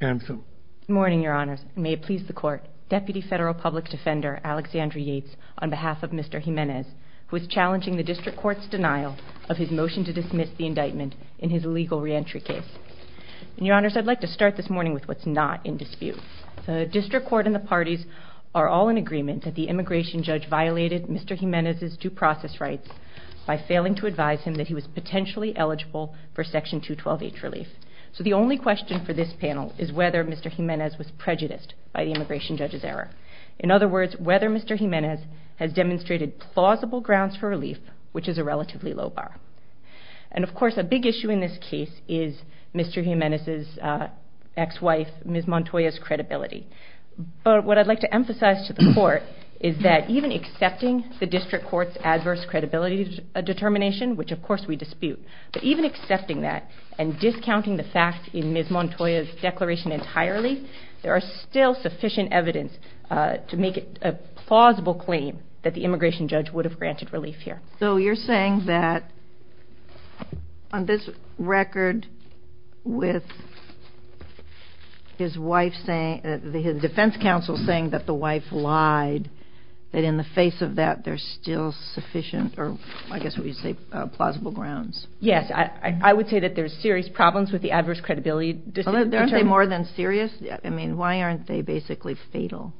Good morning, your honors. May it please the court. Deputy Federal Public Defender, Alexandra Yates, on behalf of Mr. Jimenez, who is challenging the district court's denial of his motion to dismiss the indictment in his legal reentry case. And your honors, I'd like to start this morning with what's not in dispute. The district court and the parties are all in agreement that the immigration judge violated Mr. Jimenez's due process rights by failing to advise him that he was potentially eligible for Section 212H relief. So the only question for this panel is whether Mr. Jimenez was prejudiced by the immigration judge's error. In other words, whether Mr. Jimenez has demonstrated plausible grounds for relief, which is a relatively low bar. And of course, a big issue in this case is Mr. Jimenez's ex-wife, Ms. Montoya's case, is that even accepting the district court's adverse credibility determination, which of course we dispute, but even accepting that and discounting the fact in Ms. Montoya's declaration entirely, there are still sufficient evidence to make it a plausible claim that the immigration judge would have granted relief here. So you're saying that on this record with his wife saying, his defense counsel saying that the wife lied, that in the face of that there's still sufficient, or I guess what you say, plausible grounds. Yes, I would say that there's serious problems with the adverse credibility determination. Aren't they more than serious? I mean, why aren't they basically fatal?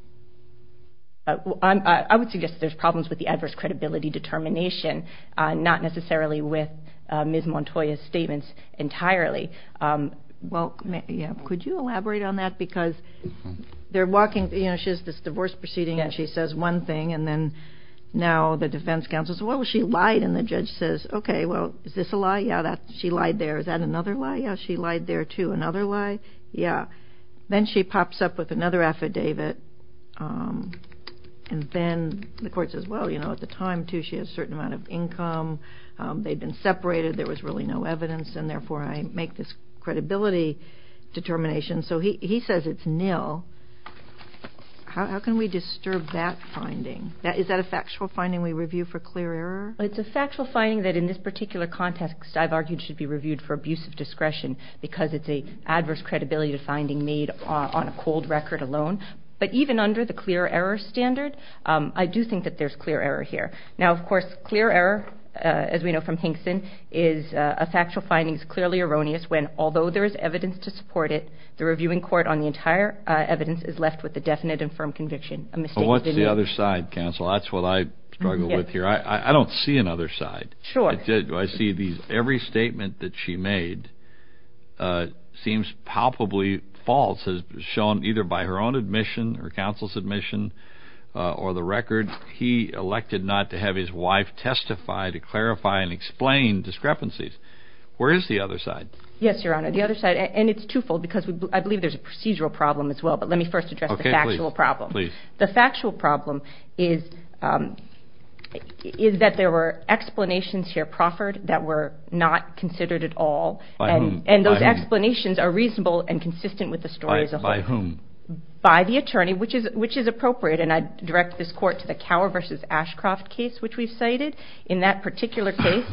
I would suggest there's problems with the adverse credibility determination, not necessarily with Ms. Montoya's statement entirely. Well, yeah, could you elaborate on that? Because they're walking, you know, she has this divorce proceeding and she says one thing, and then now the defense counsel says, well, she lied. And the judge says, okay, well, is this a lie? Yeah, she lied there. Is that another lie? Yeah, she lied there too. Another lie? Yeah. Then she pops up with another affidavit. And then the court says, well, you know, at the time too, she had a certain amount of income. They'd been separated. There was really no evidence. And therefore, I make this credibility determination. So he says it's nil. How can we disturb that finding? Is that a factual finding we review for clear error? It's a factual finding that in this particular context I've argued should be reviewed for abuse of discretion because it's an adverse credibility finding made on a cold record alone. But even under the clear error standard, I do think that there's clear error here. Now, of course, clear error, as we know from Hinkson, is a factual findings clearly erroneous when although there is evidence to support it, the reviewing court on the entire evidence is left with a definite and firm conviction. A mistake is the other side, counsel. That's what I struggle with here. I don't see another side. Sure. I did. I see these every statement that she made seems palpably false as shown either by her own admission or counsel's admission or the record. He elected not to have his wife testify to clarify and explain discrepancies. Where is the other side? Yes, Your Honor, the other side. And it's twofold because I believe there's a procedural problem as well. But let me first address the factual problem. The factual problem is that there were explanations here proffered that were not considered at all. And those explanations are reasonable and consistent with the story. By whom? By the attorney, which is appropriate. And I direct this court to the Cower versus Ashcroft case, which we've cited. In that particular case,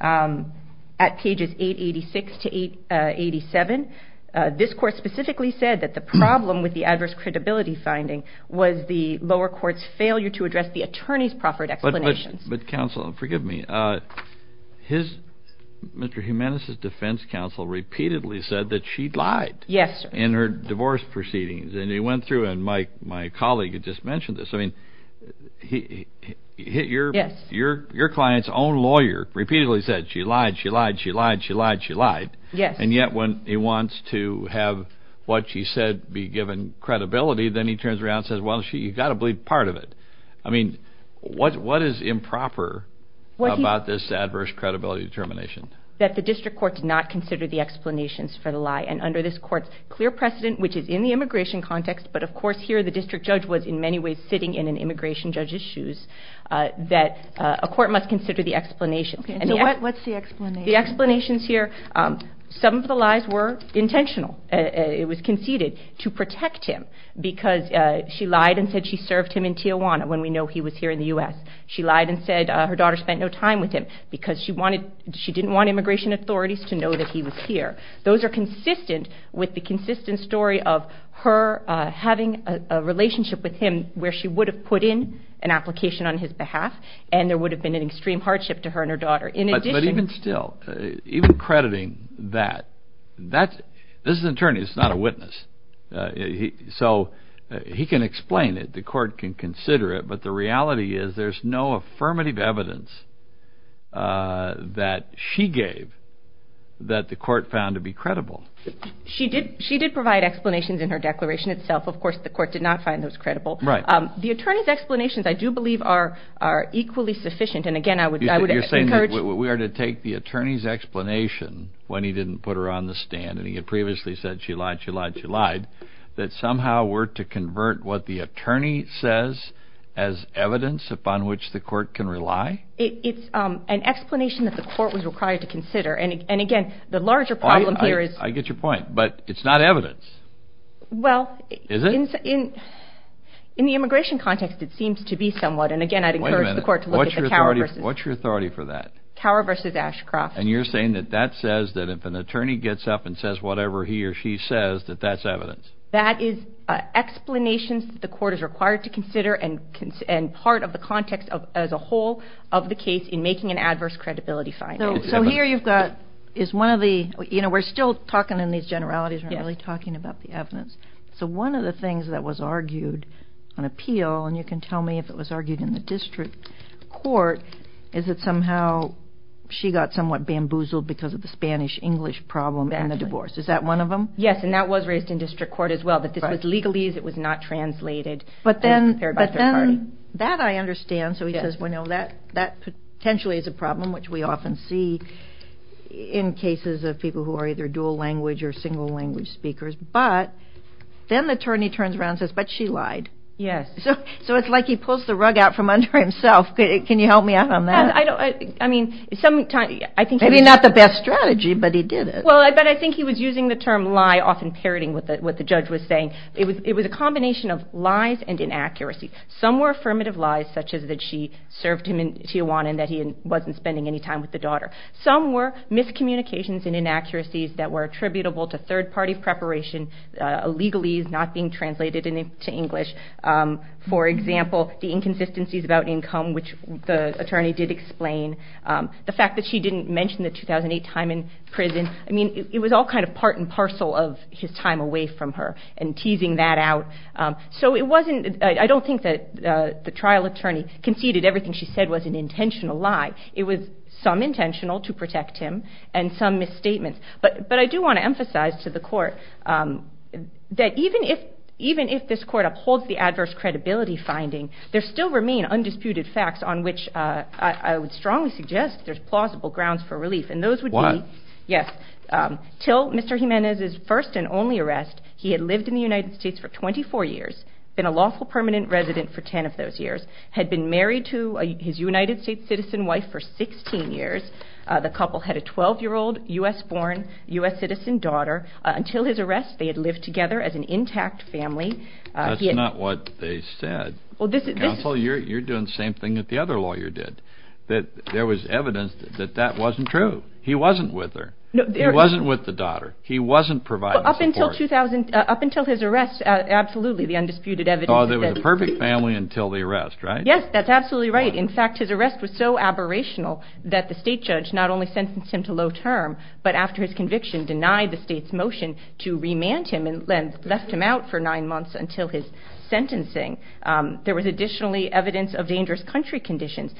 at pages 886 to 887, this court specifically said that the problem with the adverse credibility finding was the lower court's failure to address the attorney's proffered explanations. But counsel, forgive me. His, Mr. Jimenez's defense counsel repeatedly said that she'd lied. Yes, sir. In her divorce proceedings. And he went through and my colleague had just mentioned this. I mean, your client's own lawyer repeatedly said she lied, she lied, she lied, she lied, she lied. Yes. And yet when he wants to have what she said be given credibility, then he turns around and says, well, you've got to believe part of it. I mean, what is improper about this adverse credibility determination? That the district court did not consider the explanations for the lie. And under this court's clear precedent, which is in the immigration context, but of course here the district judge was in many ways sitting in an immigration judge's shoes, that a court must consider the explanation. And so what's the explanation? The explanations here, some of the lies were intentional. It was conceded to protect him because she lied and said she served him in Tijuana when we know he was here in the U.S. She lied and said her daughter spent no time with him because she didn't want immigration authorities to know that he was here. Those are consistent with the consistent story of her having a relationship with him where she would have put in an application on his behalf and there would have been an extreme hardship to her and her daughter. But even still, even crediting that, this is an attorney, it's not a witness. So he can explain it, the court can consider it, but the reality is there's no affirmative evidence that she gave that the court found to be credible. She did provide explanations in her declaration itself. Of course, the court did not find those credible. The attorney's explanations, I do believe, are equally sufficient and again I would encourage... We are to take the attorney's explanation when he didn't put her on the stand and he had previously said she lied, she lied, she lied, that somehow were to convert what the court can rely? It's an explanation that the court was required to consider and again, the larger problem here is... I get your point, but it's not evidence, is it? In the immigration context, it seems to be somewhat and again I'd encourage the court to look at the Cower v. Ashcroft. What's your authority for that? And you're saying that that says that if an attorney gets up and says whatever he or she says that that's evidence? That is explanations that the court is required to consider and part of the context as a whole of the case in making an adverse credibility finding. So here you've got, we're still talking in these generalities, we're not really talking about the evidence. So one of the things that was argued on appeal, and you can tell me if it was argued in the district court, is that somehow she got somewhat bamboozled because of the Spanish-English problem in the divorce. Is that one of them? Yes, and that was raised in district court as well, that this was legalese, it was not translated and prepared by third party. That I understand. So he says, well, no, that potentially is a problem, which we often see in cases of people who are either dual language or single language speakers, but then the attorney turns around and says, but she lied. So it's like he pulls the rug out from under himself. Can you help me out on that? I mean, sometimes I think... Maybe not the best strategy, but he did it. Well, but I think he was using the term lie, often parroting what the judge was saying. It was a combination of lies and inaccuracies. Some were affirmative lies, such as that she served him in Tijuana and that he wasn't spending any time with the daughter. Some were miscommunications and inaccuracies that were attributable to third party preparation, legalese not being translated into English. For example, the inconsistencies about income, which the attorney did explain. The fact that she didn't mention the 2008 time in prison. I mean, it was all kind of part and parcel of his time away from her and teasing that out. So it wasn't... I don't think that the trial attorney conceded everything she said was an intentional lie. It was some intentional to protect him and some misstatements. But I do want to emphasize to the court that even if this court upholds the adverse credibility finding, there still remain undisputed facts on which I would strongly suggest there's plausible grounds for relief. And those would be... Why? Yes. Till Mr. Jimenez's first and only arrest, he had lived in the United States for 24 years, been a lawful permanent resident for 10 of those years, had been married to his United States citizen wife for 16 years. The couple had a 12 year old U.S. born, U.S. citizen daughter. Until his arrest, they had lived together as an intact family. That's not what they said. Counsel, you're doing the same thing that the other lawyer did. That there was evidence that that wasn't true. He wasn't with her. He wasn't with the daughter. He wasn't providing support. Up until 2000... Up until his arrest, absolutely, the undisputed evidence... Oh, they were the perfect family until the arrest, right? Yes, that's absolutely right. In fact, his arrest was so aberrational that the state judge not only sentenced him to low term, but after his conviction, denied the state's for nine months until his sentencing, there was additionally evidence of dangerous country conditions.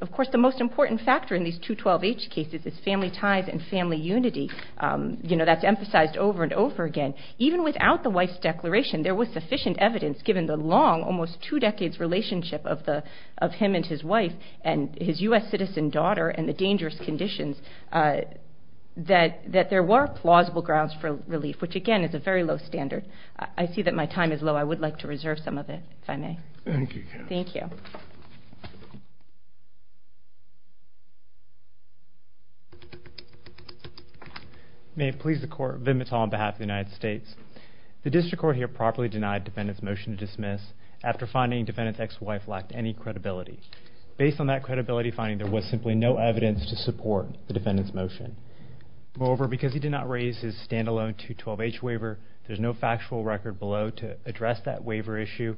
Of course, the most important factor in these 212H cases is family ties and family unity. That's emphasized over and over again. Even without the wife's declaration, there was sufficient evidence, given the long, almost two decades relationship of him and his wife, and his U.S. citizen daughter, and the dangerous conditions, that there were plausible grounds for relief, which again is a very low standard. I see that my time is low. I would like to reserve some of it, if I may. Thank you, Kat. Thank you. May it please the court, Vinh Mittal on behalf of the United States. The district court here properly denied defendant's motion to dismiss, after finding defendant's ex-wife lacked any credibility. Based on that credibility finding, there was simply no evidence to support the defendant's motion. Moreover, because he did not raise his standalone 212H waiver, there's no factual record below to address that waiver issue.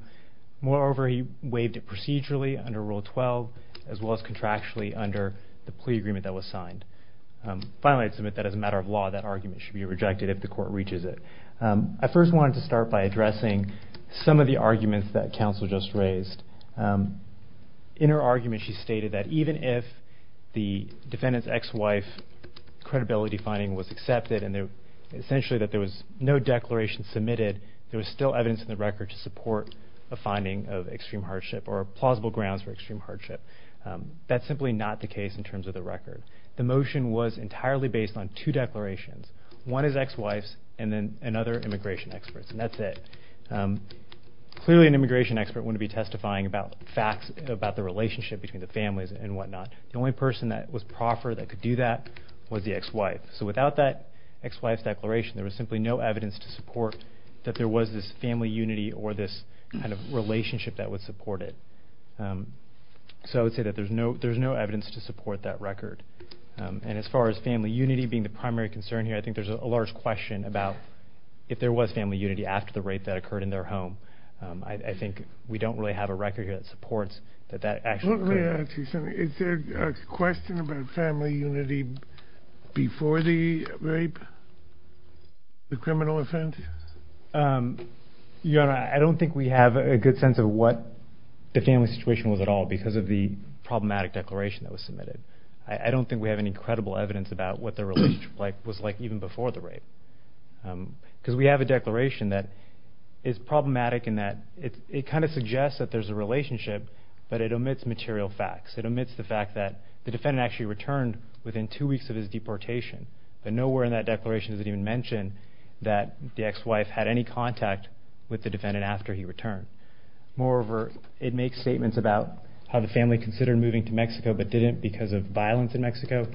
Moreover, he waived it procedurally under Rule 12, as well as contractually under the plea agreement that was signed. Finally, I'd submit that as a matter of law, that argument should be rejected if the court reaches it. I first wanted to start by addressing some of the arguments that counsel just raised. In her argument, she stated that even if the defendant's ex-wife credibility finding was submitted, there was still evidence in the record to support a finding of extreme hardship or plausible grounds for extreme hardship. That's simply not the case in terms of the record. The motion was entirely based on two declarations. One is ex-wife's, and then another immigration expert's, and that's it. Clearly an immigration expert wouldn't be testifying about facts about the relationship between the families and whatnot. The only person that was proffer that could do that was the ex-wife. So without that ex-wife's declaration, there was simply no evidence to support that there was this family unity or this kind of relationship that would support it. So I would say that there's no evidence to support that record. As far as family unity being the primary concern here, I think there's a large question about if there was family unity after the rape that occurred in their home. I think we don't really have a record here that supports that that actually occurred. Let me ask you something. Is there a question about family unity before the rape, the criminal offenses? Your Honor, I don't think we have a good sense of what the family situation was at all because of the problematic declaration that was submitted. I don't think we have any credible evidence about what their relationship was like even before the rape. Because we have a declaration that is problematic in that it kind of suggests that there's a relationship, but it omits material facts. It omits the fact that the defendant actually returned within two weeks of his deportation, but nowhere in that declaration does it even mention that the ex-wife had any contact with the defendant after he returned. Moreover, it makes statements about how the family considered moving to Mexico but didn't because of violence in Mexico,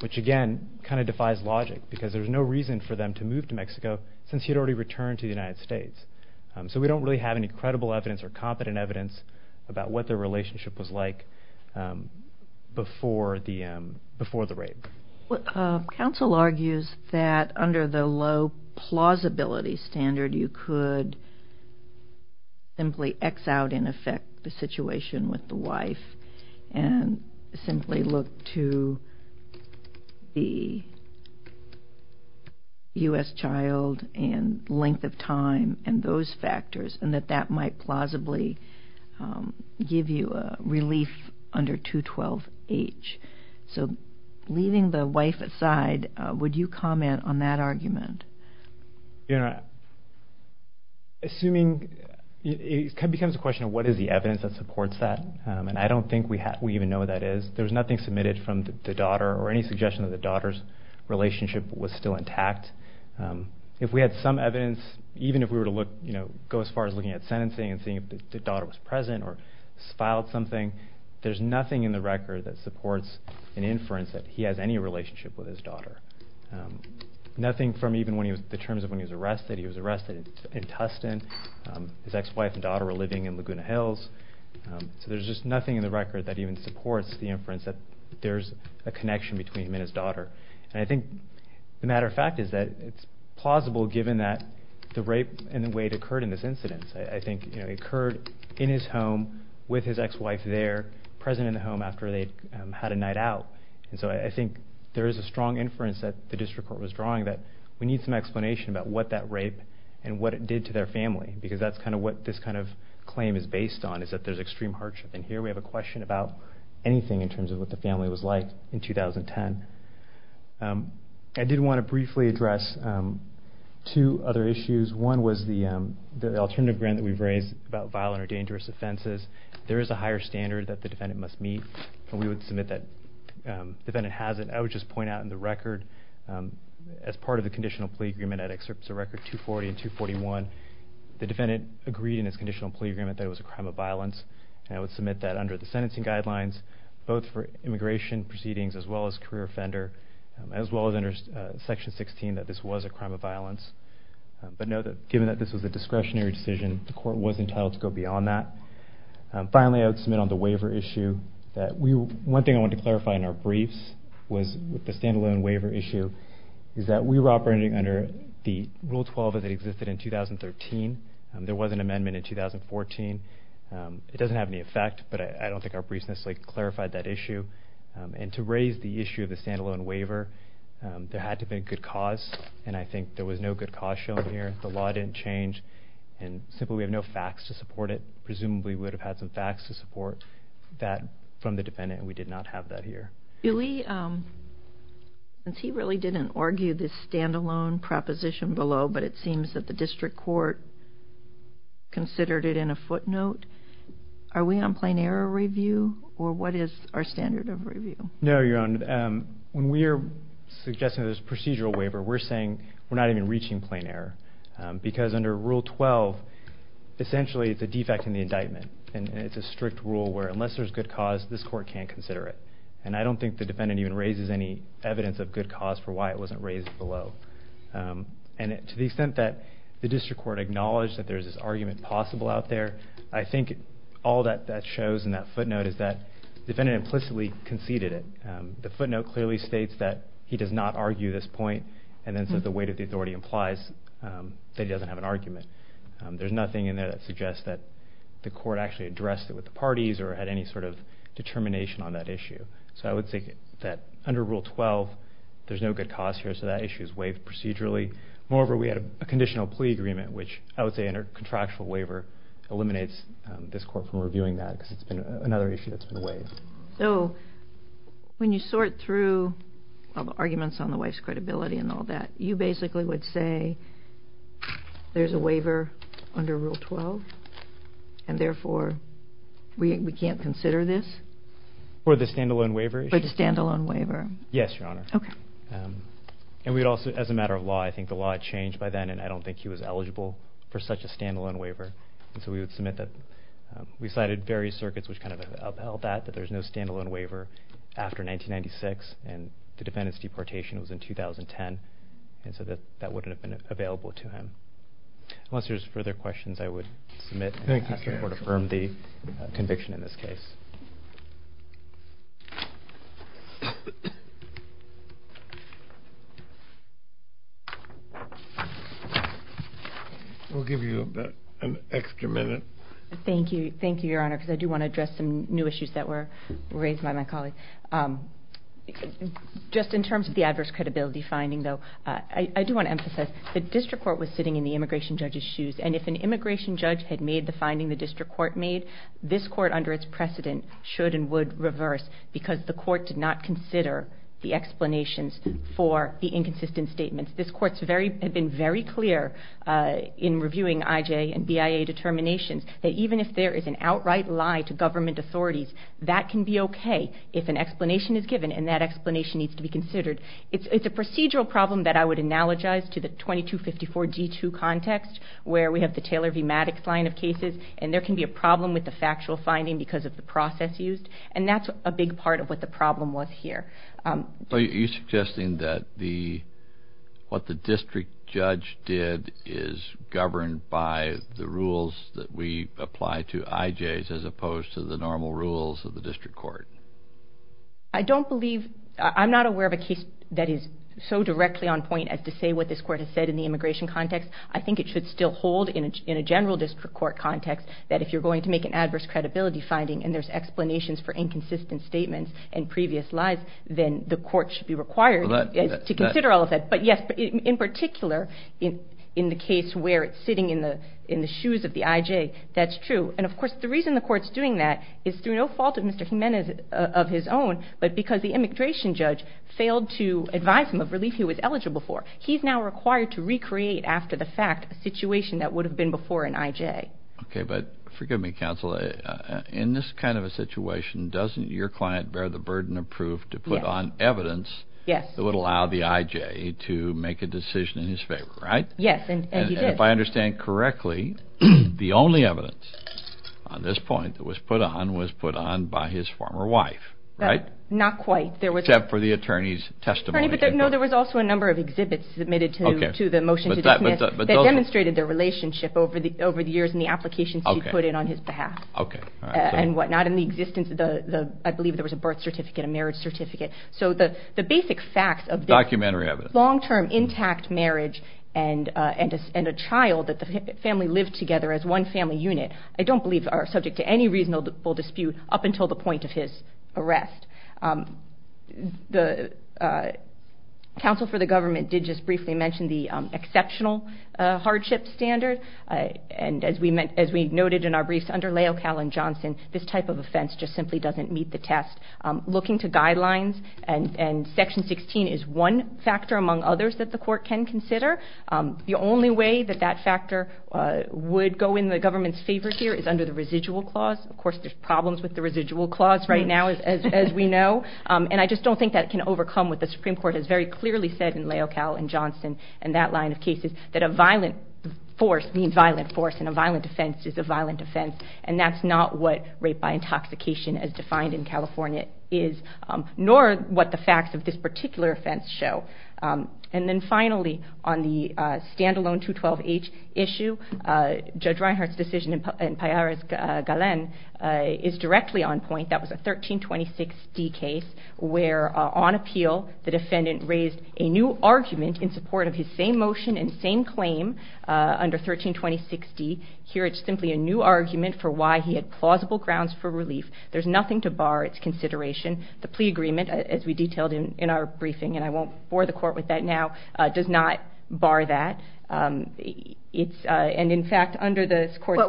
which again kind of defies logic because there's no reason for them to move to Mexico since he had already returned to the United States. So we don't really have any credible evidence or competent evidence about what their relationship was like before the rape. Counsel argues that under the low plausibility standard, you could simply X out in effect the situation with the wife and simply look to the U.S. child and length of time and those give you a relief under 212H. So leaving the wife aside, would you comment on that argument? You know, assuming it becomes a question of what is the evidence that supports that, and I don't think we even know what that is. There's nothing submitted from the daughter or any suggestion that the daughter's relationship was still intact. If we had some evidence, even if we were to look, you know, go as far as looking at sentencing and seeing if the daughter was present or filed something, there's nothing in the record that supports an inference that he has any relationship with his daughter. Nothing from even the terms of when he was arrested. He was arrested in Tustin. His ex-wife and daughter were living in Laguna Hills. So there's just nothing in the record that even supports the inference that there's a connection between him and his daughter. And I think the matter of fact is that it's plausible given that the rape and the way it occurred in this incident. I think it occurred in his home with his ex-wife there, present in the home after they had a night out. And so I think there is a strong inference that the district court was drawing that we need some explanation about what that rape and what it did to their family because that's kind of what this kind of claim is based on is that there's extreme hardship. And here we have a question about anything in terms of what the family was like in 2010. I did want to briefly address two other issues. One was the alternative grant that we've raised about violent or dangerous offenses. There is a higher standard that the defendant must meet and we would submit that the defendant has it. I would just point out in the record as part of the conditional plea agreement at excerpts of record 240 and 241, the defendant agreed in his conditional plea agreement that it was a crime of violence and I would submit that under the sentencing guidelines, both for immigration proceedings as well as career offender, as well as under section 16 that this was a crime of violence. But given that this was a discretionary decision, the court was entitled to go beyond that. Finally, I would submit on the waiver issue. One thing I wanted to clarify in our briefs was with the standalone waiver issue is that we were operating under the Rule 12 as it existed in 2013. There was an amendment in 2014. It doesn't have any effect, but I don't think our briefs necessarily clarified that issue. And to raise the issue of the standalone waiver, there had to be a good cause and I think there was no good cause shown here. The law didn't change and simply we have no facts to support it. Presumably we would have had some facts to support that from the defendant and we did not have that here. Julie, since he really didn't argue this standalone proposition below, but it seems that the district court considered it in a footnote, are we on plain error review or what is our standard of review? No, Your Honor. When we are suggesting this procedural waiver, we're saying we're not even reaching plain error because under Rule 12, essentially it's a defect in the indictment and it's a strict rule where unless there's good cause, this court can't consider it. And I don't think the defendant even raises any evidence of good cause for why it wasn't raised below. And to the extent that the district court acknowledged that there's this argument possible out there, I think all that that shows in that footnote is that the defendant implicitly conceded it. The footnote clearly states that he does not argue this point and then says the weight of the authority implies that he doesn't have an argument. There's nothing in there that suggests that the court actually addressed it with the parties or had any sort of determination on that issue. So I would say that under Rule 12, there's no good cause here so that issue is waived procedurally. Moreover, we had a conditional plea agreement which I would say under contractual waiver eliminates this court from reviewing that because it's been another issue that's been waived. So when you sort through arguments on the wife's credibility and all that, you basically would say there's a waiver under Rule 12 and therefore we would say there's no good cause. And as a matter of law, I think the law had changed by then and I don't think he was eligible for such a standalone waiver. And so we would submit that we cited various circuits which kind of upheld that, that there's no standalone waiver after 1996 and the defendant's deportation was in 2010 and so that wouldn't have been available to him. Unless there's further questions, I would submit and ask the court to affirm the conviction in this case. We'll give you an extra minute. Thank you. Thank you, Your Honor, because I do want to address some new issues that were raised by my colleague. Just in terms of the adverse credibility finding, though, I do want to emphasize the district court was sitting in the immigration judge's shoes and if an immigration judge had made the finding the district court made, this court under its precedent should and would reverse because the court did not consider the explanations for the inconsistent statements. This court had been very clear in reviewing IJ and BIA determinations that even if there is an outright lie to government authorities, that can be okay if an explanation is given and that explanation needs to be considered. It's a procedural problem that I would analogize to the 2254 G2 context where we have the Taylor v. Maddox line of cases and there can be a problem with the factual finding because of the process used and that's a big part of what the problem was here. So you're suggesting that what the district judge did is governed by the rules that we apply to IJs as opposed to the normal rules of the district court? I don't believe, I'm not aware of a case that is so directly on point as to say what this court has said in the immigration context. I think it should still hold in a general district court context that if you're going to make an adverse credibility finding and there's explanations for inconsistent statements and previous lies, then the court should be required to consider all of that. But yes, in particular in the case where it's sitting in the shoes of the IJ, that's true. And of course the reason the court's doing that is through no fault of Mr. Jimenez of his own, but because the immigration judge failed to advise him of relief he was eligible for, he's now required to recreate after the fact a situation that would have been before an IJ. Okay, but forgive me counsel, in this kind of a situation doesn't your client bear the burden of proof to put on evidence that would allow the IJ to make a decision in his favor, right? Yes, and he did. If I understand correctly, the only evidence on this point that was put on was put on by his former wife, right? Not quite. Except for the attorney's testimony. No, there was also a number of exhibits submitted to the motion to dismiss that demonstrated their relationship over the years and the applications he put in on his behalf and whatnot. In the existence of the, I believe there was a birth certificate, a marriage certificate. So the basic facts of this long-term intact marriage and a child that family lived together as one family unit I don't believe are subject to any reasonable dispute up until the point of his arrest. The counsel for the government did just briefly mention the exceptional hardship standard and as we noted in our briefs under Leo Callen-Johnson, this type of offense just simply doesn't meet the test. Looking to guidelines and section 16 is one among others that the court can consider. The only way that that factor would go in the government's favor here is under the residual clause. Of course, there's problems with the residual clause right now as we know and I just don't think that can overcome what the Supreme Court has very clearly said in Leo Callen-Johnson and that line of cases that a violent force means violent force and a violent offense is a violent offense and that's not what rape by intoxication as defined in California is nor what the facts of this particular offense show. And then finally on the standalone 212-H issue, Judge Reinhart's decision in Pallares-Galen is directly on point, that was a 1326-D case where on appeal the defendant raised a new argument in support of his same motion and same claim under 1326-D. Here it's simply a new argument for why he had raised a new argument. There's nothing to bar its consideration. The plea agreement, as we detailed in our briefing, and I won't bore the court with that now, does not bar that. What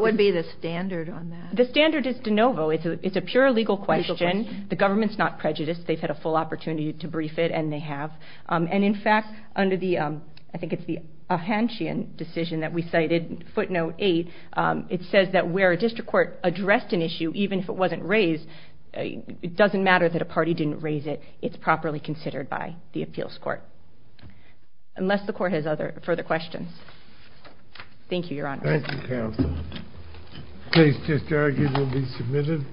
would be the standard on that? The standard is de novo. It's a pure legal question. The government's not prejudiced. They've had a full opportunity to brief it and they have. And in fact, under the, I think it's the Ahanchian decision that we cited, footnote 8, it says that where a district court addressed an issue, even if it wasn't raised, it doesn't matter that a party didn't raise it, it's properly considered by the appeals court. Unless the court has further questions. Thank you, Your Honor. Thank you, Counsel. The case is arguably submitted.